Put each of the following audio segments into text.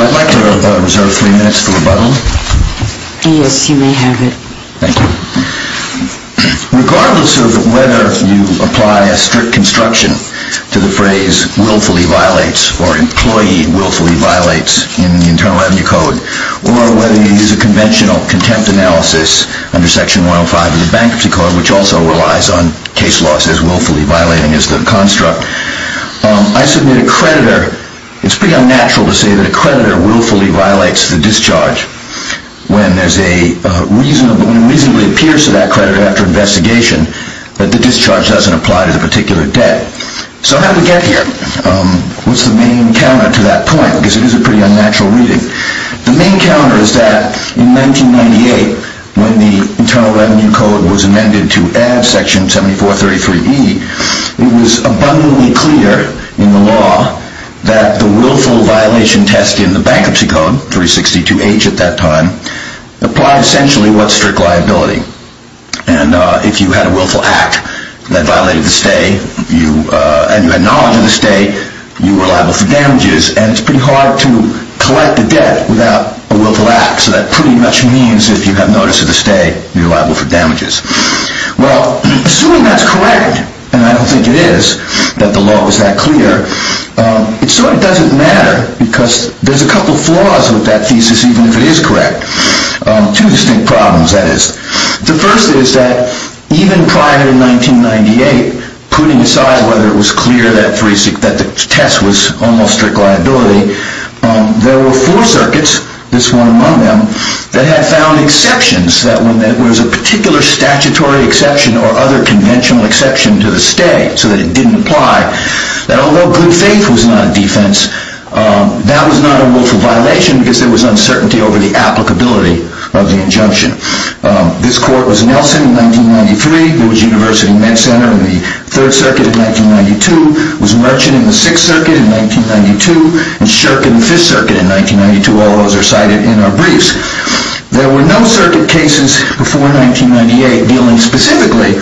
I'd like to reserve three minutes for rebuttal. Yes, you may have it. Thank you. Regardless of whether you apply a strict construction to the phrase willfully violates or employee willfully violates in the Internal Revenue Code or whether you use a conventional contempt analysis under Section 105 of the Bankruptcy Code, which also relies on case laws as willfully violating as the construct, I submit a creditor, it's pretty unnatural to say that a creditor willfully violates the discharge when there's a reasonable, when it reasonably appears to that creditor after investigation that the discharge doesn't apply to the particular So how did we get here? What's the main counter to that point? Because it is a pretty unnatural reading. The main counter is that in 1998, when the Internal Revenue Code was amended to add Section 7433E, it was abundantly clear in the law that the willful violation test in the Bankruptcy Code, 362H at that time, applied essentially what's strict liability. And if you had a willful act that violated the stay, and you had knowledge of the stay, you were liable for damages. And it's pretty hard to collect the debt without a willful act. So that pretty much means that if you have notice of the stay, you're liable for damages. Well, assuming that's correct, and I don't think it is, that the law was that clear, it sort of doesn't matter because there's a couple flaws with that thesis, even if it is correct. Two distinct problems, that is. The first is that even prior to 1998, putting aside whether it was clear that the test was almost strict liability, there were four circuits, this one among them, that had found exceptions, that when there was a particular statutory exception or other conventional exception to the stay, so that it didn't apply, that although good faith was not a defense, that was not a willful violation because there was uncertainty over the applicability of the injunction. This court was Nelson in 1993, it was University Med Center in the Third Circuit in 1992, it was Merchant in the Sixth Circuit in 1992, and Shirk in the Fifth Circuit in 1992. All those are cited in our briefs. There were no circuit cases before 1998 dealing specifically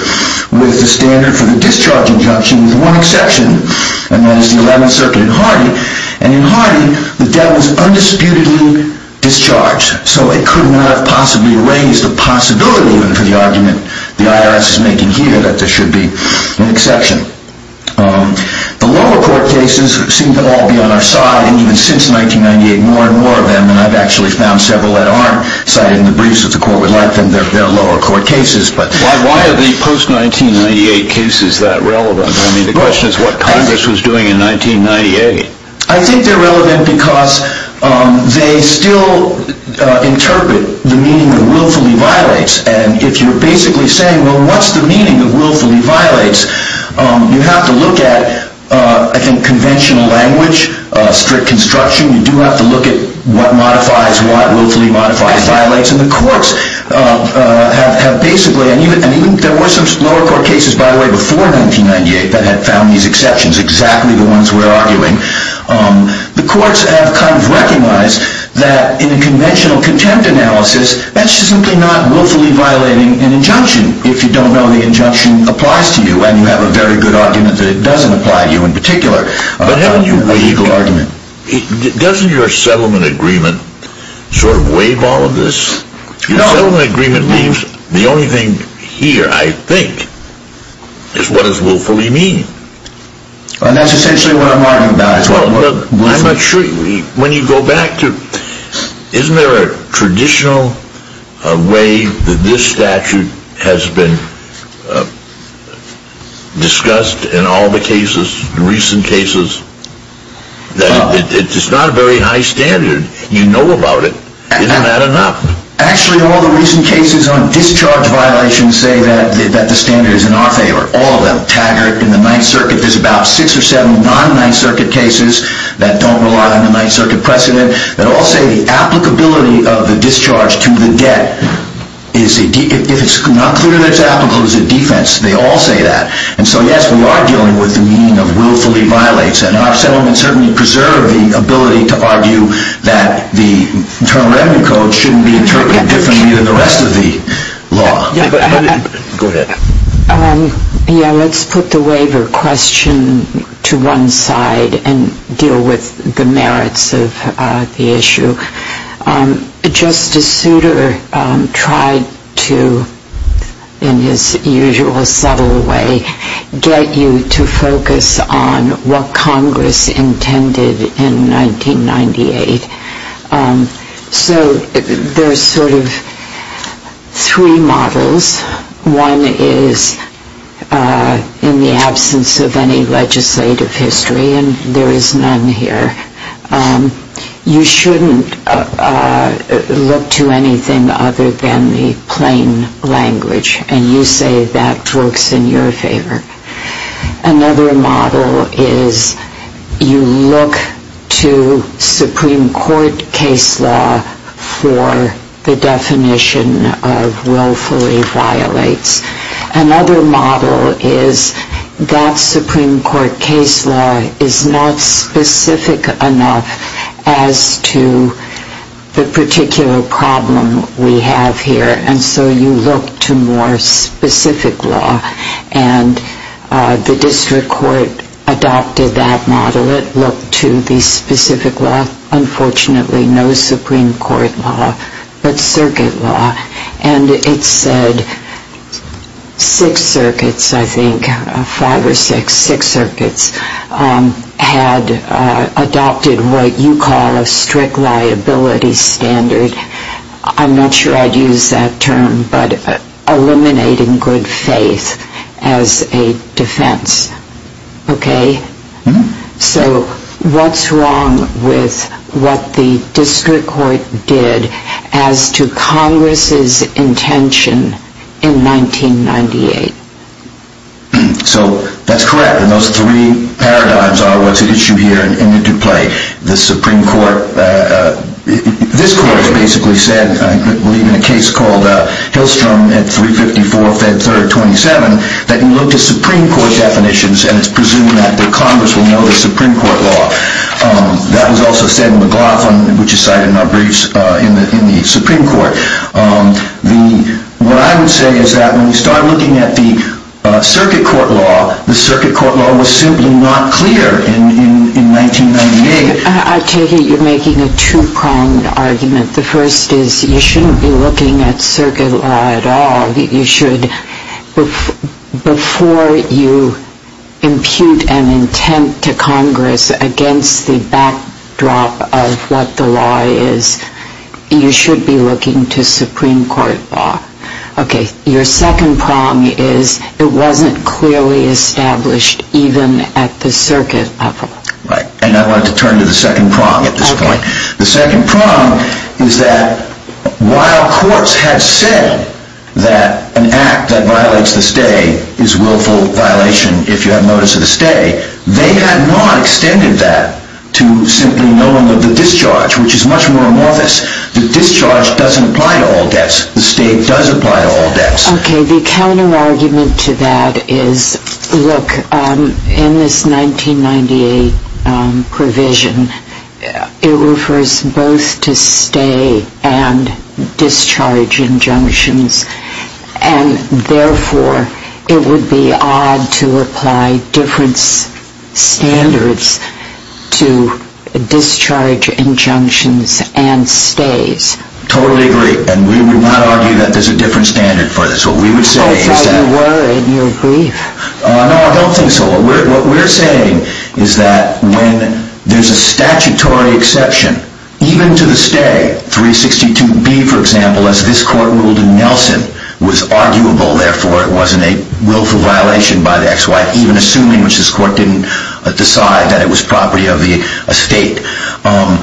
with the standard for the discharge injunction with one exception, and that is the Eleventh Circuit in Hardy. And in Hardy, the debt was undisputedly discharged, so it could not have possibly raised a possibility even for the argument the IRS is making here that there should be an exception. The lower court cases seem to all be on our side, and even since 1998, more and more of them, and I've actually found several that aren't cited in the briefs that the court would like, and they're lower court cases. Why are the post-1998 cases that relevant? I mean, the question is what Congress was doing in 1998. I think they're relevant because they still interpret the meaning of willfully violates, and if you're basically saying, well, what's the meaning of willfully violates? You have to look at, I think, conventional language, strict construction, you do have to look at what modifies what willfully modifies violates, and the courts have basically, and even there were some lower court cases, by the way, before 1998 that had found these exceptions, exactly the ones we're arguing, the courts have kind of recognized that in a conventional contempt analysis, that's just simply not willfully violating an injunction, if you don't know the injunction applies to you, and you have a very good argument that it doesn't apply to you in particular, a legal argument. Doesn't your settlement agreement sort of waive all of this? Your settlement agreement means the only thing here, I think, is what does willfully mean. And that's essentially what I'm arguing about. I'm not sure, when you go back to, isn't there a traditional way that this statute has been discussed in all the cases, the recent cases, that it's not a very high standard, you know about it, isn't that enough? Actually, all the recent cases on discharge violations say that the standard is in our favor, all of them, Taggart and the Ninth Circuit, there's about six or seven non-Ninth Circuit cases that don't rely on the Ninth Circuit precedent, that all say the applicability of the discharge to the debt, if it's not clear that it's applicable, is a defense, they all say that. And so, yes, we are dealing with the meaning of willfully violates, and our settlement certainly preserves the ability to argue that the Internal Revenue Code shouldn't be interpreted differently than the rest of the law. Go ahead. Yeah, let's put the waiver question to one side and deal with the merits of the issue. Justice Souter tried to, in his usual subtle way, get you to focus on what Congress intended in 1998. So there's sort of three models. One is in the absence of any legislative history, and there is none here. You shouldn't look to anything other than the plain language, and you say that works in your favor. Another model is you look to Supreme Court case law for the definition of willfully violates. Another model is that Supreme Court case law is not specific enough as to the particular problem we have here, and so you look to more specific law. And the District Court adopted that model. It looked to the specific law. Unfortunately, no Supreme Court law, but circuit law. And it said six circuits, I think, five or six, six circuits had adopted what you call a strict liability standard. I'm not sure I'd use that term, but eliminating good faith as a defense. Okay? So what's wrong with what the District Court did as to Congress's intention in 1998? So that's correct, and those three paradigms are what's at issue here in the Dupley. The Supreme Court, this court has basically said, I believe in a case called Hillstrom at 354 Fed 3rd 27, that you look to Supreme Court definitions, and it's presumed that Congress will know the Supreme Court law. That was also said in McLaughlin, which is cited in our briefs in the Supreme Court. What I would say is that when you start looking at the circuit court law, the circuit court law was simply not clear in 1998. I take it you're making a two-pronged argument. The first is you shouldn't be looking at circuit law at all. You should, before you impute an intent to Congress against the backdrop of what the law is, you should be looking to Supreme Court law. Okay, your second prong is it wasn't clearly established even at the circuit level. Right, and I wanted to turn to the second prong at this point. The second prong is that while courts had said that an act that violates the stay is willful violation if you have notice of the they had not extended that to simply knowing of the discharge, which is much more amorphous. The discharge doesn't apply to all debts. The state does apply to all debts. Okay, the counterargument to that is, look, in this 1998 provision, it refers both to stay and standards to discharge injunctions and stays. Totally agree, and we would not argue that there's a different standard for this. That's all you were in your brief. No, I don't think so. What we're saying is that when there's a statutory exception, even to the stay, 362B, for example, as this court ruled in Nelson, was arguable. Therefore, it wasn't a willful violation by the ex-wife, even assuming which this court didn't decide that it was property of the estate.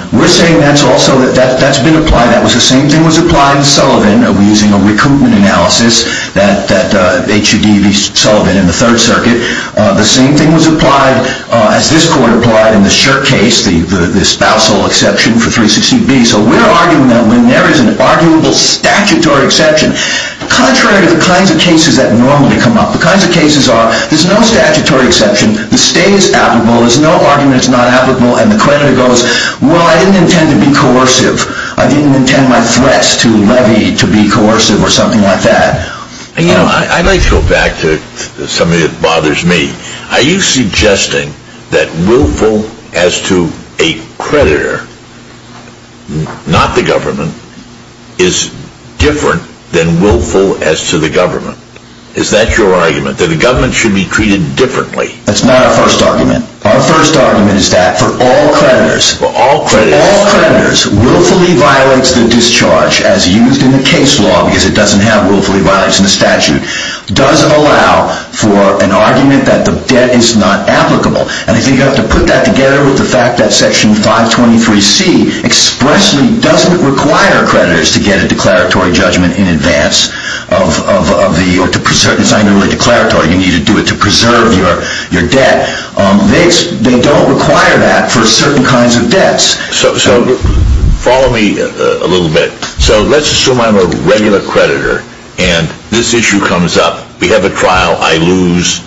We're saying that's also that that's been applied. That was the same thing was applied in Sullivan using a recoupment analysis that HUD v. Sullivan in the Third Circuit. The same thing was applied as this court applied in the Shirk case, the spousal exception for 360B. So we're arguing that when there is an arguable statutory exception, contrary to the kinds of cases that normally come up, the kinds of cases are, there's no statutory exception, the stay is applicable, there's no argument it's not applicable, and the creditor goes, well, I didn't intend to be coercive. I didn't intend my threats to levy to be coercive or something like that. You know, I'd like to go back to something that bothers me. Are you suggesting that willful as to a creditor, not the government, is different than willful as to the government? Is that your argument? That the government should be treated differently? That's not our first argument. Our first argument is that for all creditors, willfully violates the discharge as used in the case law because it doesn't have willfully violates in the statute, does allow for an argument that the debt is not applicable. And I think you have to put that together with the fact that Section 523C expressly doesn't require creditors to get a declaratory judgment in advance of the, or to preserve, it's not even really declaratory, you need to do it to preserve your debt. They don't require that for certain kinds of debts. So follow me a little bit. So let's assume I'm a regular creditor and this issue comes up. We have a trial. I lose.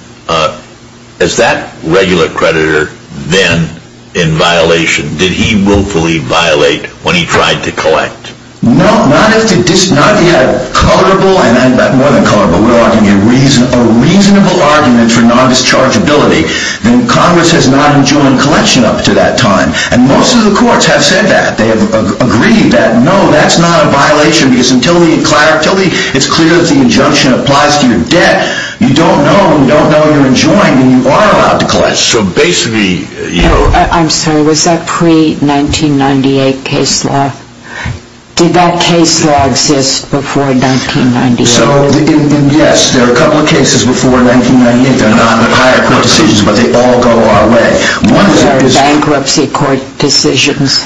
Is that regular creditor then in violation? Did he willfully violate when he tried to collect? No, not if he had a reasonable argument for non-dischargeability. Then Congress has not enjoined collection up to that time. And most of the courts have said that. They have agreed that, no, that's not a violation because until the, it's clear that the injunction applies to your debt, you don't know, you don't know you're enjoined and you are allowed to collect. So basically, you know. I'm sorry, was that pre-1998 case law? Did that case law exist before 1998? So, yes, there are a couple of cases before 1998 that are not in the higher court decisions, but they all go our way. What are bankruptcy court decisions?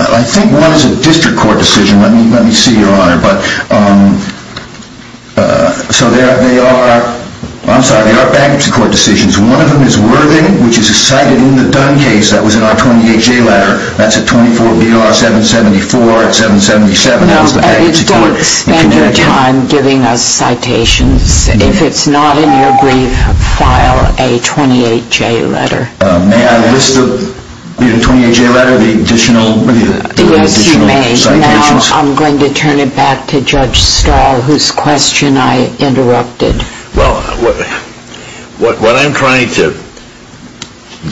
I think one is a district court decision. Let me see, Your Honor. So there are, I'm sorry, there are bankruptcy court decisions. One of them is Worthing, which is cited in the Dunn case that was in our 28-J letter. That's a 24-BR-774-777. No, don't spend your time giving us citations. If it's not in your brief, file a 28-J letter. May I list the 28-J letter, the additional citations? Yes, you may. Now I'm going to turn it back to Judge Stahl, whose question I interrupted. Well, what I'm trying to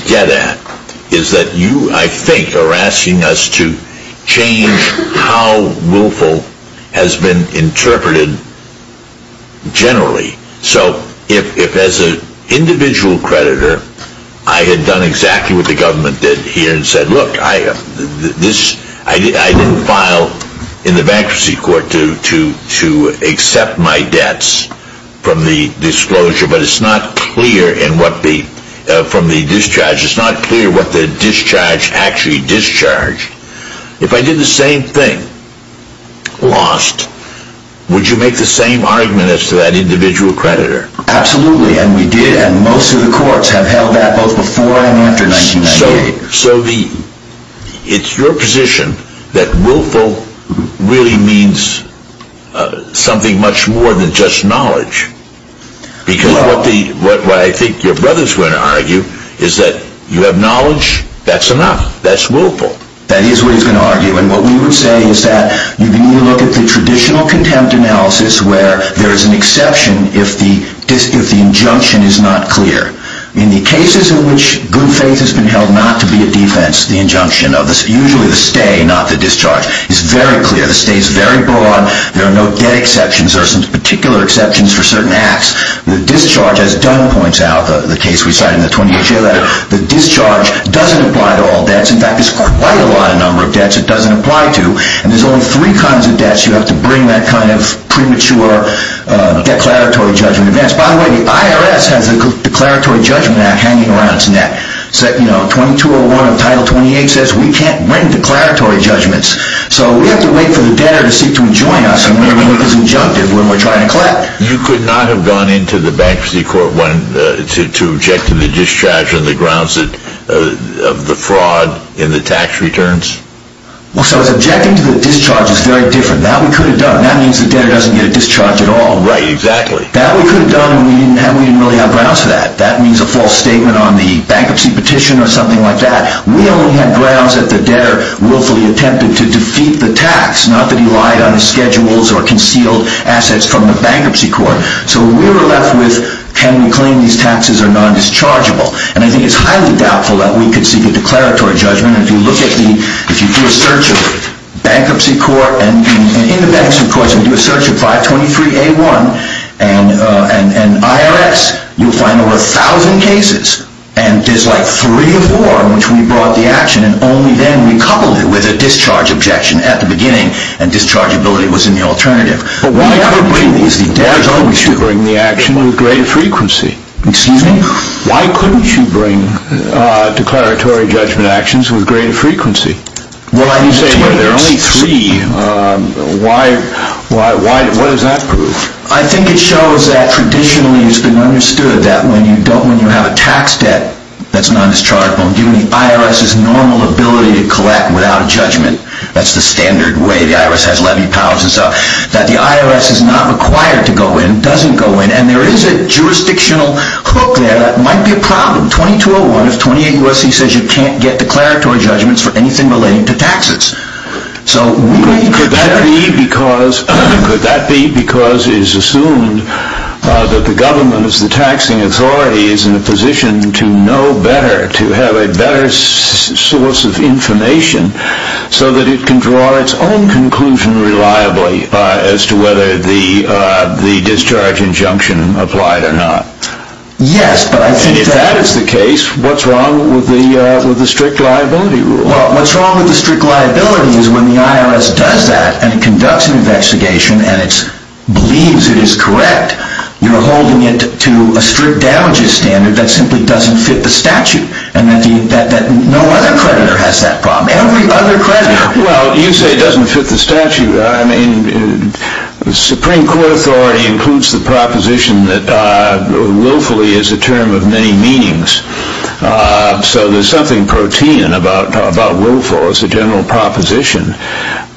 get at is that you, I think, are asking us to change how willful has been interpreted generally. So if as an individual creditor, I had done exactly what the government did here and said, look, I didn't file in the bankruptcy court to accept my debts from the disclosure, but it's not clear in what the, from the discharge, it's not clear what the discharge actually discharged. If I did the same thing, lost, would you make the same argument as to that individual creditor? Absolutely, and we did, and most of the courts have held that both before and after 1998. So the, it's your position that willful really means something much more than just knowledge. Because what the, what I think your brother's going to argue is that you have knowledge, that's enough, that's willful. That is what he's going to argue. And what we would say is that you need to look at the traditional contempt analysis where there is an exception if the dis, if the injunction is not clear. In the cases in which good faith has been held not to be a defense, the injunction of the, usually the stay, not the discharge, is very clear. The stay is very broad. There are no debt exceptions. There are some particular exceptions for certain acts. The discharge, as Dunn points out, the case we cite in the 20th year letter, the discharge doesn't apply to all debts. In fact, there's quite a lot of number of debts it doesn't apply to. And there's only three kinds of debts you have to bring that kind of premature declaratory judgment advance. By the way, the IRS has a declaratory judgment act hanging around its neck. So, you know, 2201 of Title 28 says we can't bring declaratory judgments. So we have to wait for the debtor to seek to enjoin us, and we're going to make this injunctive when we're trying to collect. You could not have gone into the bankruptcy court to object to the discharge on the grounds of the fraud in the tax returns? Well, so as objecting to the discharge is very different. That we could have done. That means the debtor doesn't get a discharge at all. Right, exactly. That we could have done, and we didn't really have grounds for that. That means a false statement on the bankruptcy petition or something like that. We only have grounds that the debtor willfully attempted to defeat the tax, not that he lied on his schedules or concealed assets from the bankruptcy court. So we were left with, can we claim these taxes are non-dischargeable? And I think it's highly doubtful that we could seek a declaratory judgment. And if you look at the, if you do a search of bankruptcy court, and in the bankruptcy courts, if you do a search of 523A1 and IRS, you'll find over a thousand cases. And there's like three or four in which we brought the action, and only then we coupled it with a discharge objection at the beginning, and dischargeability was in the alternative. But why couldn't you bring the action with greater frequency? Excuse me? Why couldn't you bring declaratory judgment actions with greater frequency? Well, I'm saying there are only three. Why, why, why, what does that prove? I think it shows that traditionally it's been understood that when you don't, when you have a tax debt that's non-dischargeable, and given the IRS's normal ability to collect without a judgment, that's the standard way the IRS has levy powers and stuff, that the IRS is not required to go in, doesn't go in, and there is a jurisdictional hook there that might be a problem. 2201 of 28 U.S.C. says you can't get declaratory judgments for anything relating to taxes. So we may be prepared. Could that be because, could that be because it is assumed that the government, as the taxing authority, is in a position to know better, to have a better source of information, so that it can draw its own conclusion reliably as to whether the discharge injunction applied or not? Yes, but I think that... If that is the case, what's wrong with the strict liability rule? Well, what's wrong with the strict liability is when the IRS does that, and conducts an investigation, and it believes it is correct, you're holding it to a strict damages standard that simply doesn't fit the statute, and that no other creditor has that problem. Every other creditor. Well, you say it doesn't fit the statute. I mean, the Supreme Court authority includes the proposition that willfully is a term of many meanings. So there's something protein about willful as a general proposition.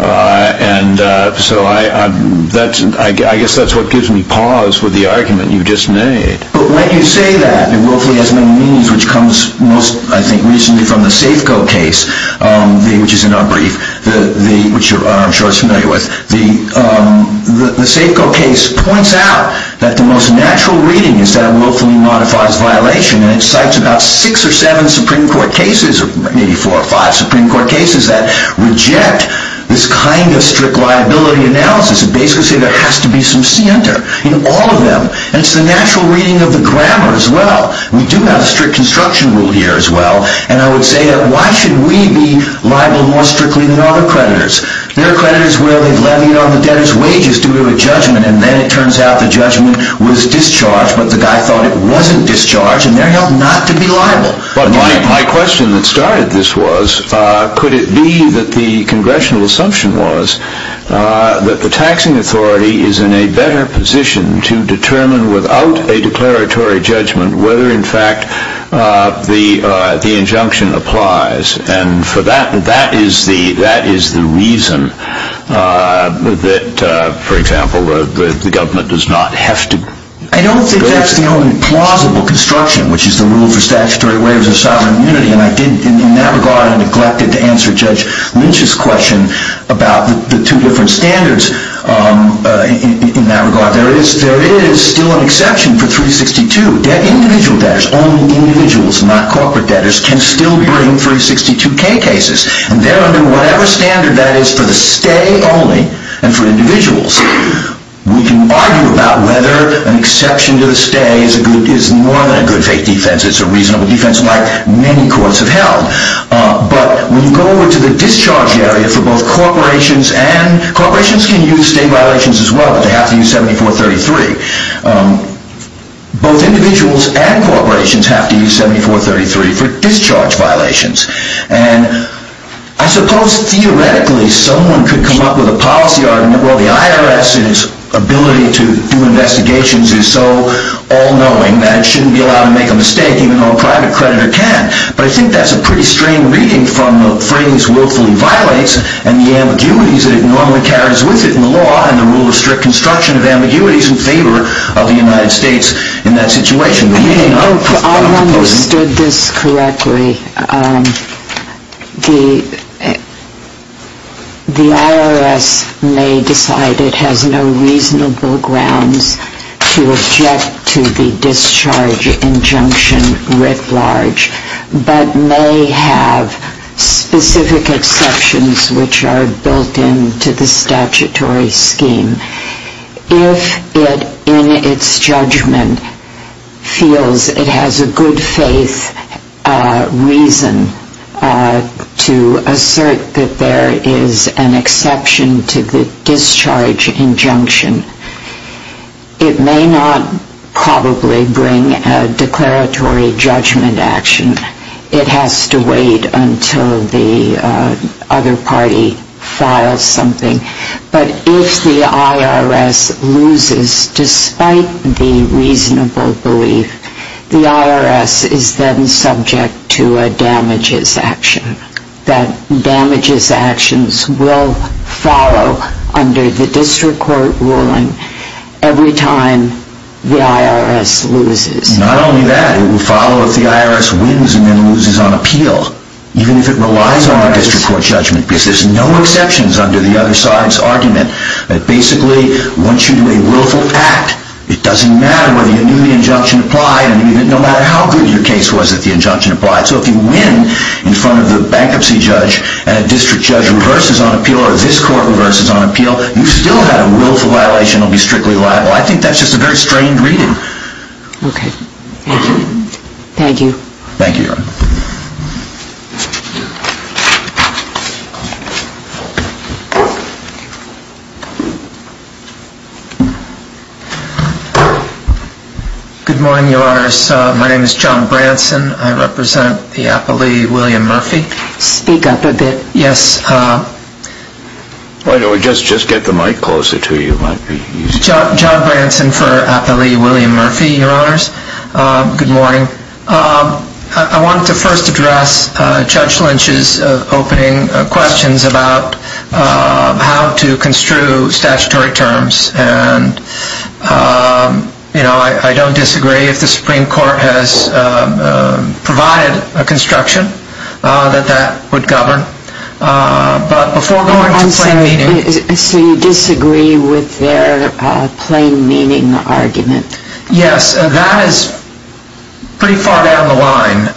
And so I guess that's what gives me pause with the argument you just made. But when you say that, that willfully has many meanings, which comes most, I think, recently from the Safeco case, which is in our brief, which I'm sure you're familiar with. The Safeco case points out that the most natural reading is that willfully modifies violation, and it cites about six or seven Supreme Court cases, maybe four or five Supreme Court cases, that reject this kind of strict liability analysis, and basically say there has to be some center in all of them. And it's the natural reading of the grammar as well. We do have a strict construction rule here as well. And I would say that why should we be liable more strictly than other creditors? There are creditors where they've levied on the debtor's wages due to a judgment, and then it turns out the judgment was discharged, and they're held not to be liable. But my question that started this was, could it be that the congressional assumption was that the taxing authority is in a better position to determine without a declaratory judgment whether, in fact, the injunction applies? And for that, that is the reason that, for example, the government does not have to... I don't think that's the only plausible construction, which is the rule for statutory waivers of sovereign immunity. And in that regard, I neglected to answer Judge Lynch's question about the two different standards in that regard. There is still an exception for 362. Individual debtors, only individuals, not corporate debtors, can still bring 362k cases. And there under whatever standard that is for the stay only, and for individuals, we can argue about whether an exception to the stay is more than a good fake defense. It's a reasonable defense, like many courts have held. But when you go over to the discharge area for both corporations and... Corporations can use state violations as well, but they have to use 7433. Both individuals and corporations have to use 7433 for discharge violations. And I suppose, theoretically, someone could come up with a policy argument, well, the IRS's ability to do investigations is so all-knowing that it shouldn't be allowed to make a mistake, even though a private creditor can. But I think that's a pretty strange reading from the phrase willfully violates, and the ambiguities that it normally carries with it in the law and the rule of strict construction of ambiguities in favor of the United States in that situation. Do you think I understood this correctly? The IRS may decide it has no reasonable grounds to object to the discharge injunction writ large, but may have specific exceptions which are built into the statutory scheme. If it, in its judgment, feels it has a good faith reason to assert that there is an exception to the discharge injunction, it may not probably bring a declaratory judgment action. It has to wait until the other party files something. But if the IRS loses despite the reasonable belief, the IRS is then subject to a damages action. That damages actions will follow under the district court ruling every time the IRS loses. Not only that. It will follow if the IRS wins and then loses on appeal, even if it relies on the district court judgment, because there's no exceptions under the other side's argument. Basically, once you do a willful act, it doesn't matter whether you knew the injunction applied and even no matter how good your case was that the injunction applied. So if you win in front of the bankruptcy judge and a district judge reverses on appeal or this court reverses on appeal, you still have a willful violation and will be strictly liable. I think that's just a very strained reading. Okay. Thank you. Thank you, Your Honor. Good morning, Your Honors. My name is John Branson. I represent the appellee, William Murphy. Speak up a bit. Yes. Why don't we just get the mic closer to you. It might be easier. John Branson for appellee, William Murphy, Your Honors. Good morning. I wanted to first address Judge Lynch's opening questions about how to construe statutory terms. And I don't disagree if the Supreme Court has provided a construction that that would govern. But before going to plain meaning. So you disagree with their plain meaning argument? Yes, that is pretty far down the line.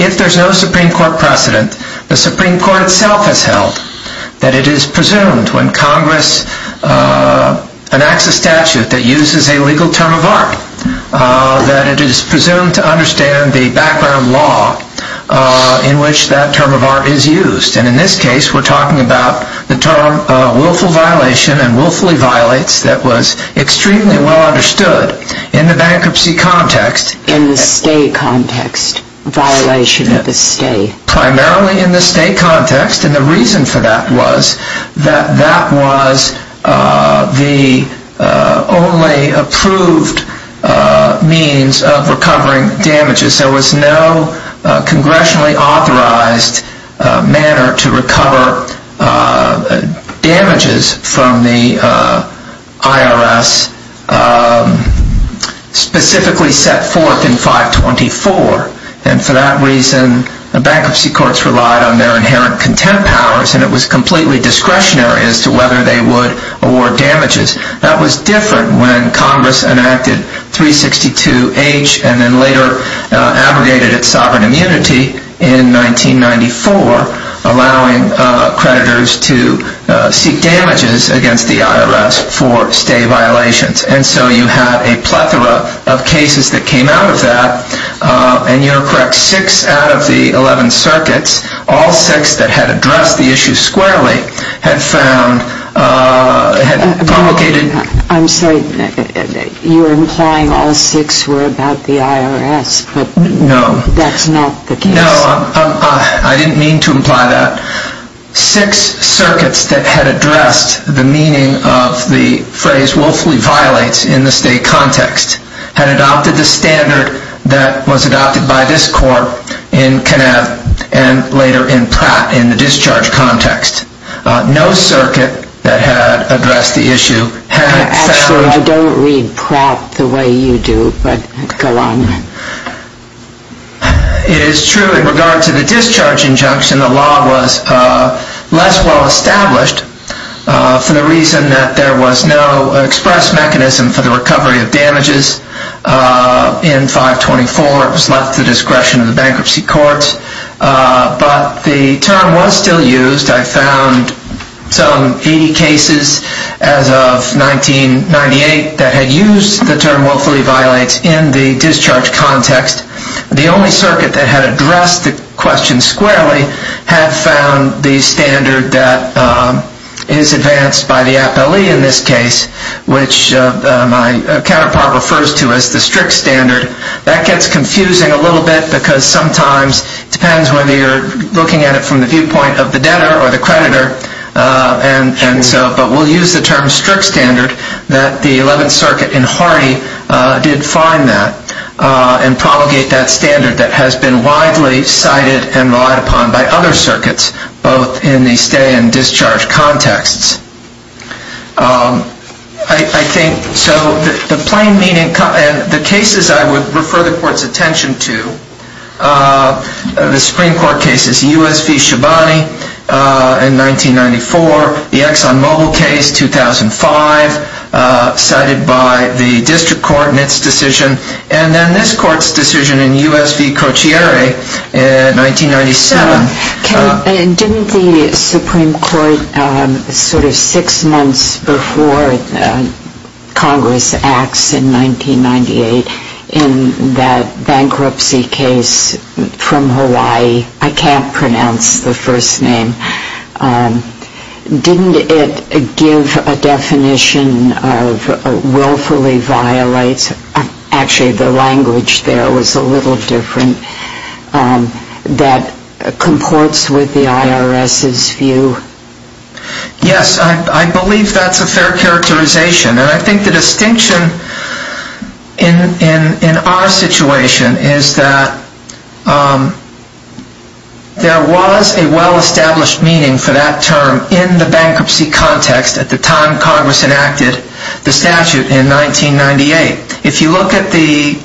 If there's no Supreme Court precedent, the Supreme Court itself has held that it is presumed when Congress enacts a statute that uses a legal term of art, that it is presumed to understand the background law in which that term of art is used. And in this case, we're talking about the term willful violation and willfully violates that was extremely well understood in the bankruptcy context. In the state context, violation of the state. Primarily in the state context. And the reason for that was that that was the only approved means of recovering damages. There was no congressionally authorized manner to recover damages from the IRS. Specifically set forth in 524. And for that reason, the bankruptcy courts relied on their inherent contempt powers. And it was completely discretionary as to whether they would award damages. That was different when Congress enacted 362H. And then later abrogated its sovereign immunity in 1994. Allowing creditors to seek damages against the IRS for state violations. And so you have a plethora of cases that came out of that. And you're correct. Six out of the 11 circuits, all six that had addressed the issue squarely had found complicated. I'm sorry, you're implying all six were about the IRS. But that's not the case. No, I didn't mean to imply that. Six circuits that had addressed the meaning of the phrase willfully violates in the state context had adopted the standard that was adopted by this court in Kinev and later in Pratt in the discharge context. No circuit that had addressed the issue Actually, I don't read Pratt the way you do, but go on. It is true in regard to the discharge injunction, the law was less well established for the reason that there was no express mechanism for the recovery of damages in 524. It was left to the discretion of the bankruptcy courts. But the term was still used. I found some 80 cases as of 1998 that had used the term willfully violates in the discharge context. The only circuit that had addressed the question squarely had found the standard that is advanced by the appellee in this case, which my counterpart refers to as the strict standard. That gets confusing a little bit because sometimes it depends whether you're looking at it from the viewpoint of the debtor or the creditor. But we'll use the term strict standard that the 11th Circuit in Hardy did find that and promulgate that standard that has been widely cited and relied upon by other circuits, both in the stay and discharge contexts. I think, so the plain meaning, the cases I would refer the court's attention to, the Supreme Court cases, U.S. v. Shabani in 1994, the Exxon Mobil case, 2005, cited by the district court in its decision, and then this court's decision in U.S. v. Cochiere in 1997. Didn't the Supreme Court, sort of six months before Congress acts in 1998, in that bankruptcy case from Hawaii, I can't pronounce the first name, didn't it give a definition of willfully violates, actually the language there was a little different, that comports with the IRS's view? Yes, I believe that's a fair characterization. And I think the distinction in our situation is that there was a well-established meaning for that term in the bankruptcy context at the time Congress enacted the statute in 1998. If you look at the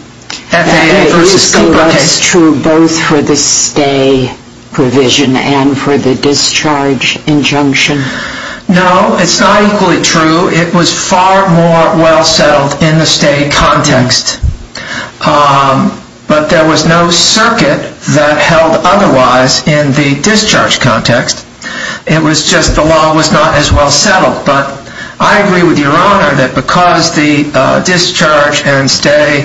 FAA v. Scobart case... Was that true both for the stay provision and for the discharge injunction? No, it's not equally true. It was far more well-settled in the stay context. But there was no circuit that held otherwise in the discharge context. It was just the law was not as well-settled. But I agree with Your Honor that because the discharge and stay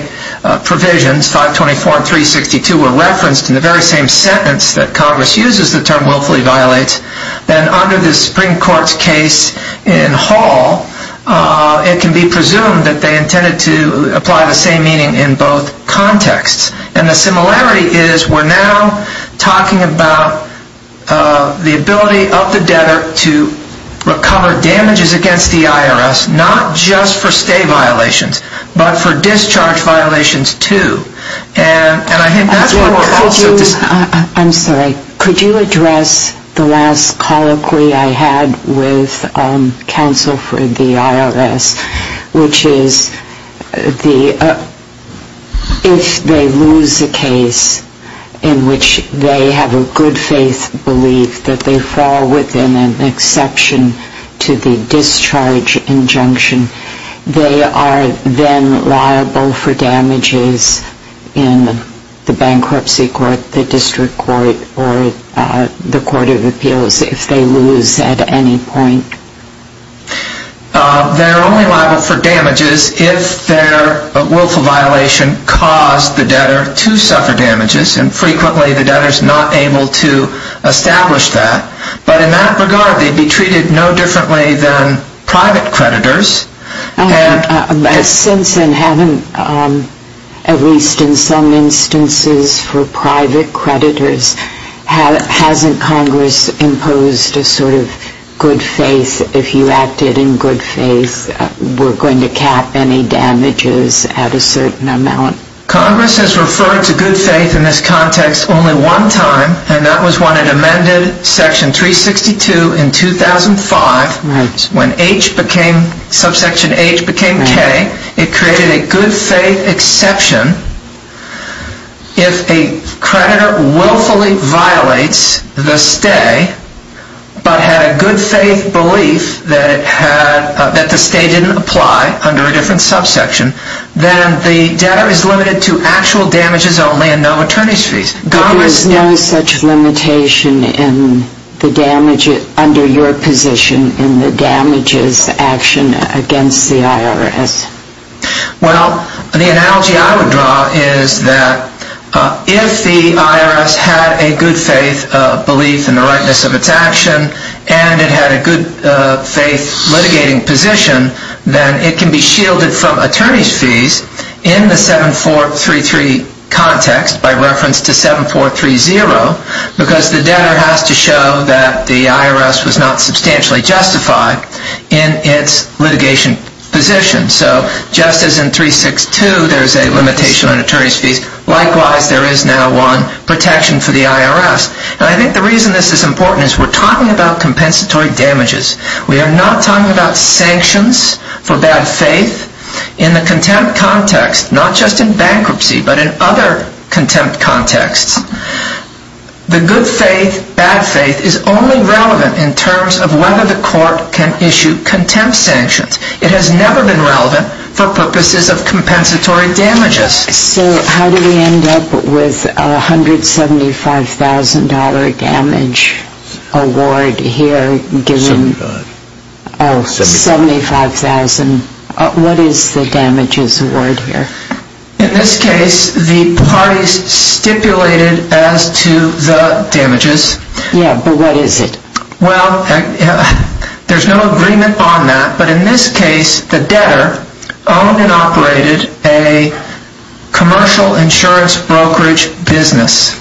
provisions, 524 and 362, were referenced in the very same sentence that Congress uses the term willfully violates, then under the Supreme Court's case in Hall, it can be presumed that they intended to apply the same meaning in both contexts. And the similarity is we're now talking about the ability of the debtor to recover damages against the IRS, not just for stay violations, but for discharge violations, too. And I think that's what... I'm sorry. Could you address the last colloquy I had with counsel for the IRS, which is if they lose a case in which they have a good-faith belief that they fall within an exception to the discharge injunction, they are then liable for damages in the bankruptcy court, the district court, or the court of appeals if they lose at any point? They're only liable for damages if their willful violation caused the debtor to suffer damages, and frequently the debtor's not able to establish that. But in that regard, they'd be treated no differently than private creditors. Since then, haven't... at least in some instances for private creditors, hasn't Congress imposed a sort of good faith if you acted in good faith, we're going to cap any damages at a certain amount? Congress has referred to good faith in this context only one time, and that was when it amended Section 362 in 2005 when H became... subsection H became K, it created a good faith exception if a creditor willfully violates the stay but had a good faith belief that the stay didn't apply under a different subsection, then the debtor is limited to actual damages only and no attorney's fees. Congress... There is no such limitation under your position in the damages action against the IRS. Well, the analogy I would draw is that if the IRS had a good faith belief in the rightness of its action and it had a good faith litigating position, then it can be shielded from attorney's fees in the 7433 context by reference to 7430 because the debtor has to show that the IRS was not substantially justified in its litigation position. So just as in 362 there's a limitation on attorney's fees, likewise there is now one protection for the IRS. And I think the reason this is important is we're talking about compensatory damages. We are not talking about sanctions for bad faith in the contempt context, not just in bankruptcy, but in other contempt contexts. The good faith, bad faith is only relevant in terms of whether the court can issue contempt sanctions. It has never been relevant for purposes of compensatory damages. So how do we end up with a $175,000 damage award here given... 75. Oh, 75,000. What is the damages award here? In this case, the parties stipulated as to the damages. Yeah, but what is it? Well, there's no agreement on that, but in this case, the debtor owned and operated a commercial insurance brokerage business.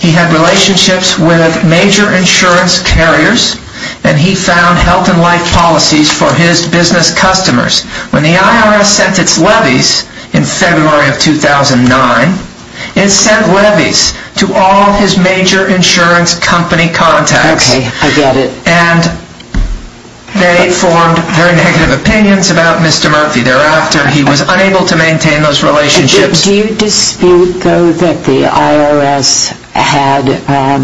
He had relationships with major insurance carriers and he found health and life policies for his business customers. When the IRS sent its levies in February of 2009, it sent levies to all his major insurance company contacts. Okay, I get it. And they formed very negative opinions about Mr. Murthy. Thereafter, he was unable to maintain those relationships. Do you dispute, though, that the IRS had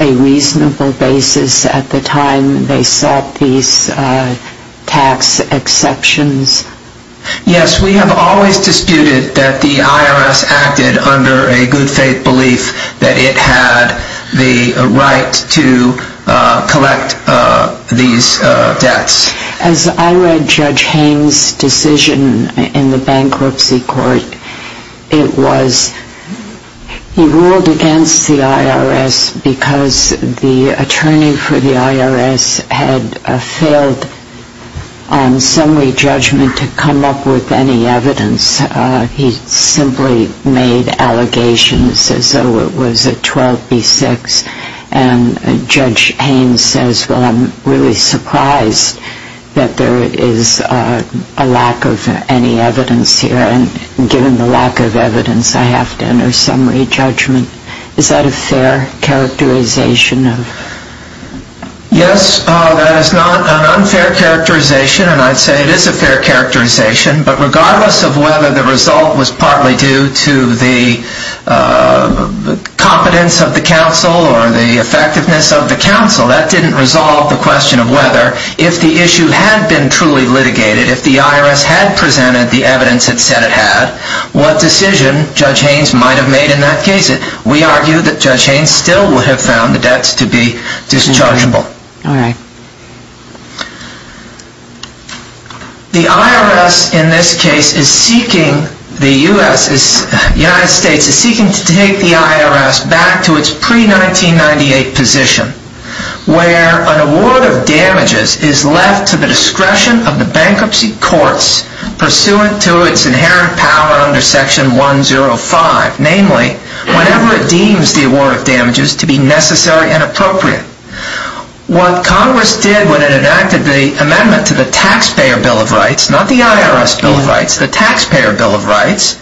a reasonable basis at the time they set these tax exceptions? Yes, we have always disputed that the IRS acted under a good faith belief that it had the right to collect these debts. As I read Judge Haines' decision in the bankruptcy court, it was he ruled against the IRS because the attorney for the IRS had failed on summary judgment to come up with any evidence. He simply made allegations as though it was a 12B6. And Judge Haines says, well, I'm really surprised that there is a lack of any evidence here and given the lack of evidence, I have to enter summary judgment. Is that a fair characterization? Yes, that is not an unfair characterization, and I'd say it is a fair characterization. But regardless of whether the result was partly due to the competence of the counsel or the effectiveness of the counsel, that didn't resolve the question of whether if the issue had been truly litigated, if the IRS had presented the evidence it said it had, We argue that Judge Haines still would have found the debts to be dischargeable. The IRS in this case is seeking, the United States is seeking to take the IRS back to its pre-1998 position where an award of damages is left to the discretion of the bankruptcy courts pursuant to its inherent power under Section 105, namely, whenever it deems the award of damages to be necessary and appropriate. What Congress did when it enacted the amendment to the Taxpayer Bill of Rights, not the IRS Bill of Rights, the Taxpayer Bill of Rights,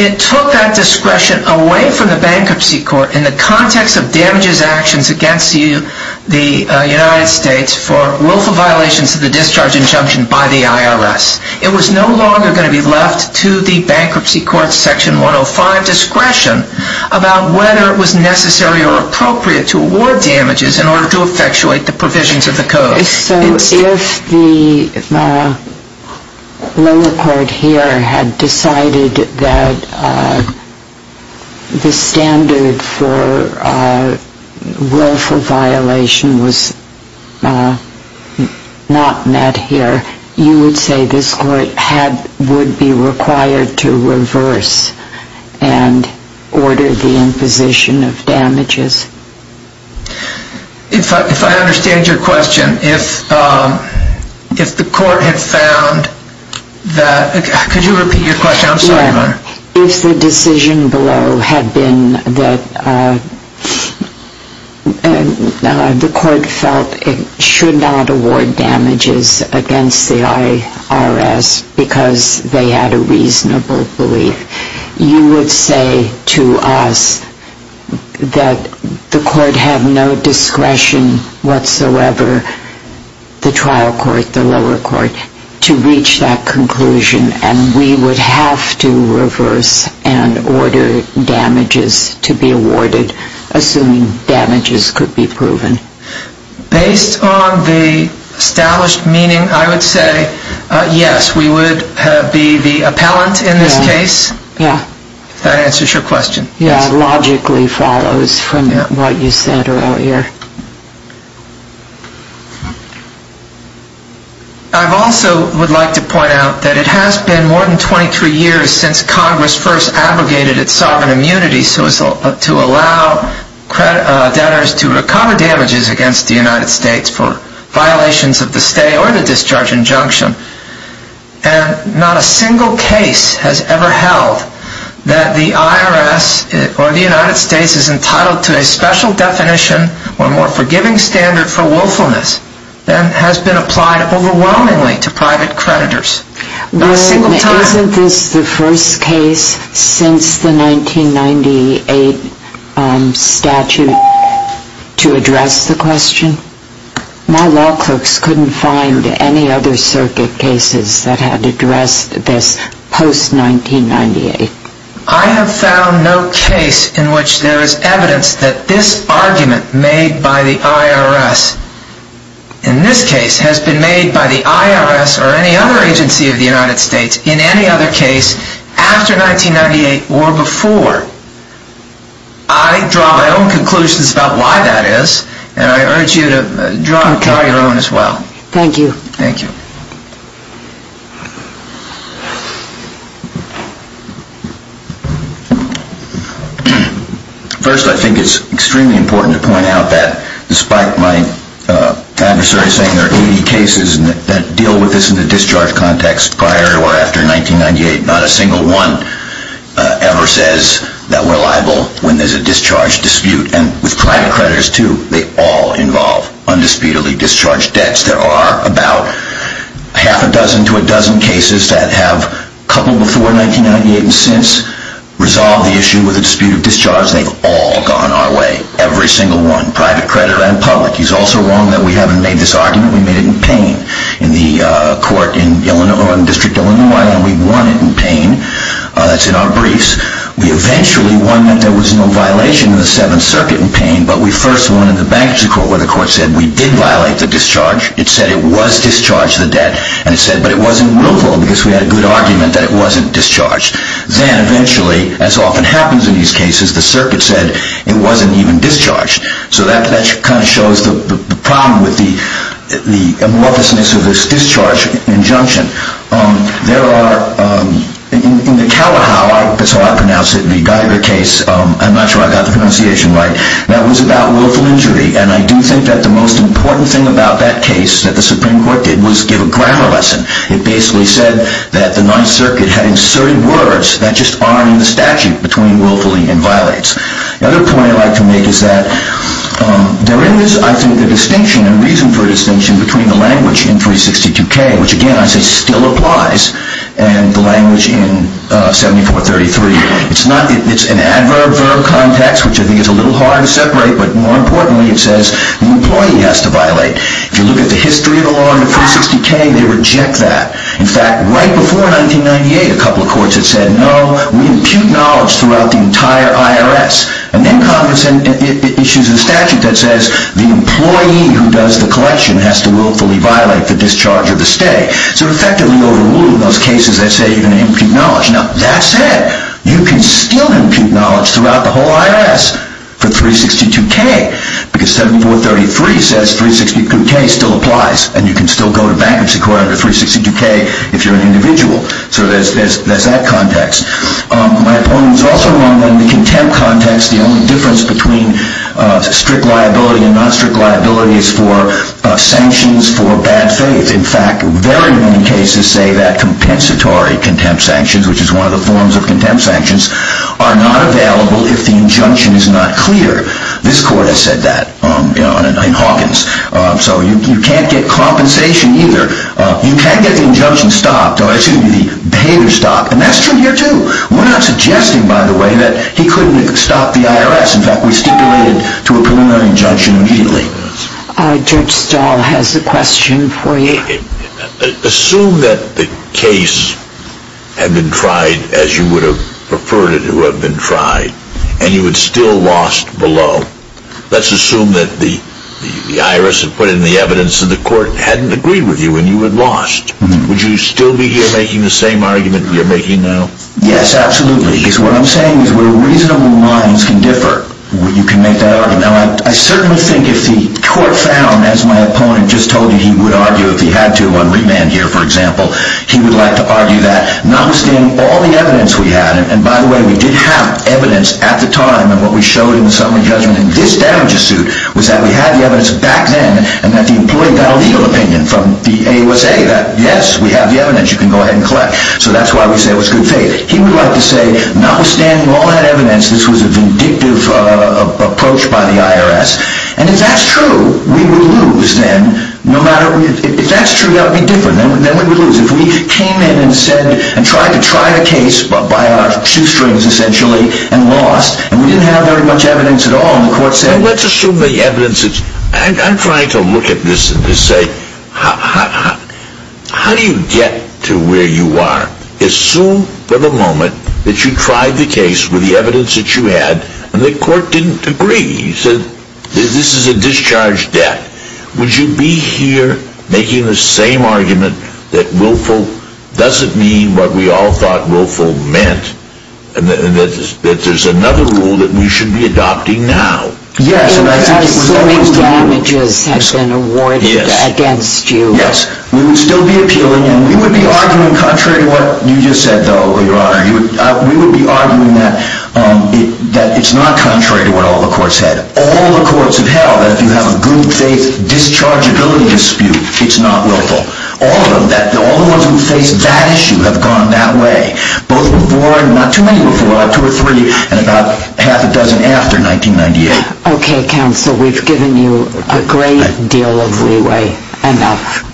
it took that discretion away from the bankruptcy court in the context of damages actions against the United States for willful violations of the discharge injunction by the IRS. It was no longer going to be left to the bankruptcy court's Section 105 discretion about whether it was necessary or appropriate to award damages in order to effectuate the provisions of the Code. So if the lower court here had decided that the standard for willful violation was not met here, you would say this court would be required to reverse and order the imposition of damages? If I understand your question, if the court had found that... Could you repeat your question? I'm sorry, Your Honor. If the decision below had been that the court felt it should not award damages against the IRS because they had a reasonable belief, you would say to us that the court had no discretion whatsoever, the trial court, the lower court, to reach that conclusion and we would have to reverse and order damages to be awarded, assuming damages could be proven? Based on the established meaning, I would say yes, we would be the appellant in this case, if that answers your question. Yeah, it logically follows from what you said earlier. I also would like to point out that it has been more than 23 years since Congress first abrogated its sovereign immunity to allow debtors to recover damages against the United States for violations of the stay or the discharge injunction, and not a single case has ever held that the IRS or the United States is entitled to a special definition or more forgiving standard for willfulness than has been applied overwhelmingly to private creditors. Isn't this the first case since the 1998 statute to address the question? My law clerks couldn't find any other circuit cases that had addressed this post 1998. I have found no case in which there is evidence that this argument made by the IRS, in this case, has been made by the IRS or any other agency of the United States in any other case after 1998 or before. I draw my own conclusions about why that is, and I urge you to draw your own as well. Thank you. Thank you. First, I think it's extremely important to point out that despite my adversary saying there are 80 cases that deal with this in the discharge context prior or after 1998, not a single one ever says that we're liable when there's a discharge dispute. And with private creditors too, they all involve undisputedly discharged debts. There are about half a dozen to a dozen cases that have, a couple before 1998 and since, resolved the issue with a dispute of discharge. They've all gone our way, every single one, private creditor and public. He's also wrong that we haven't made this argument. We made it in pain in the court in Illinois, in District of Illinois, and we won it in pain. That's in our briefs. We eventually won that there was no violation in the Seventh Circuit in pain, but we first won in the bankruptcy court where the court said we did violate the discharge. It said it was discharged, the debt, and it said, but it wasn't willful because we had a good argument that it wasn't discharged. Then eventually, as often happens in these cases, the circuit said it wasn't even discharged. So that kind of shows the problem with the amorphousness of this discharge injunction. There are, in the Kalahau, that's how I pronounce it, the Geiger case, I'm not sure I got the pronunciation right, that was about willful injury, and I do think that the most important thing about that case that the Supreme Court did was give a grammar lesson. It basically said that the Ninth Circuit had inserted words that just aren't in the statute between willfully and violates. The other point I'd like to make is that there is, I think, a distinction, a reason for a distinction, between the language in 362K, which, again, I say still applies, and the language in 7433. It's an adverb-verb context, which I think is a little hard to separate, but more importantly, it says the employee has to violate. If you look at the history of the law in the 360K, they reject that. In fact, right before 1998, a couple of courts had said, no, we impute knowledge throughout the entire IRS. And then Congress issues a statute that says the employee who does the collection has to willfully violate the discharge of the stay. So effectively overruling those cases that say you're going to impute knowledge. Now, that said, you can still impute knowledge throughout the whole IRS for 362K, because 7433 says 362K still applies, and you can still go to bankruptcy court under 362K if you're an individual. So there's that context. My opponent is also wrong in the contempt context. The only difference between strict liability and non-strict liability is for sanctions for bad faith. In fact, very many cases say that compensatory contempt sanctions, which is one of the forms of contempt sanctions, are not available if the injunction is not clear. This court has said that in Hawkins. So you can't get compensation either. You can get the injunction stopped, or it's going to be the behavior stopped, and that's true here, too. We're not suggesting, by the way, that he couldn't have stopped the IRS. In fact, we stipulated to a preliminary injunction immediately. All right, Judge Stahl has a question for you. Assume that the case had been tried as you would have preferred it to have been tried, and you had still lost below. Let's assume that the IRS had put in the evidence and the court hadn't agreed with you, and you had lost. Would you still be here making the same argument we are making now? Yes, absolutely. Because what I'm saying is where reasonable minds can differ, you can make that argument. Now, I certainly think if the court found, as my opponent just told you he would argue if he had to, on remand here, for example, he would like to argue that, notwithstanding all the evidence we had, and by the way, we did have evidence at the time, and what we showed in the summary judgment in this damages suit was that we had the evidence back then, and that the employee got a legal opinion from the AUSA to say that, yes, we have the evidence. You can go ahead and collect. So that's why we say it was good faith. He would like to say, notwithstanding all that evidence, this was a vindictive approach by the IRS, and if that's true, we would lose then. If that's true, that would be different. Then we would lose. If we came in and said, and tried to try the case by our shoestrings, essentially, and lost, and we didn't have very much evidence at all, and the court said... Let's assume the evidence is... I'm trying to look at this and just say, how do you get to where you are? Assume, for the moment, that you tried the case with the evidence that you had, and the court didn't agree. You said, this is a discharge debt. Would you be here making the same argument that willful doesn't mean what we all thought willful meant, and that there's another rule that we should be adopting now? Yes. Assuming damages have been awarded against you. Yes. We would still be appealing, and we would be arguing contrary to what you just said, though, Your Honor. We would be arguing that it's not contrary to what all the courts said. All the courts have held that if you have a good faith dischargeability dispute, it's not willful. All the ones who face that issue have gone that way, both before, and not too many before, and about half a dozen after 1998. Okay, Counsel. We've given you a great deal of leeway.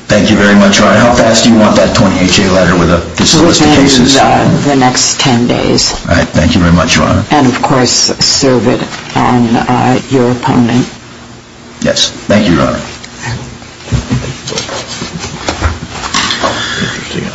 Thank you very much, Your Honor. How fast do you want that 20HA letter with the solicited cases? The next 10 days. All right. Thank you very much, Your Honor. And, of course, serve it on your opponent. Yes. Thank you, Your Honor.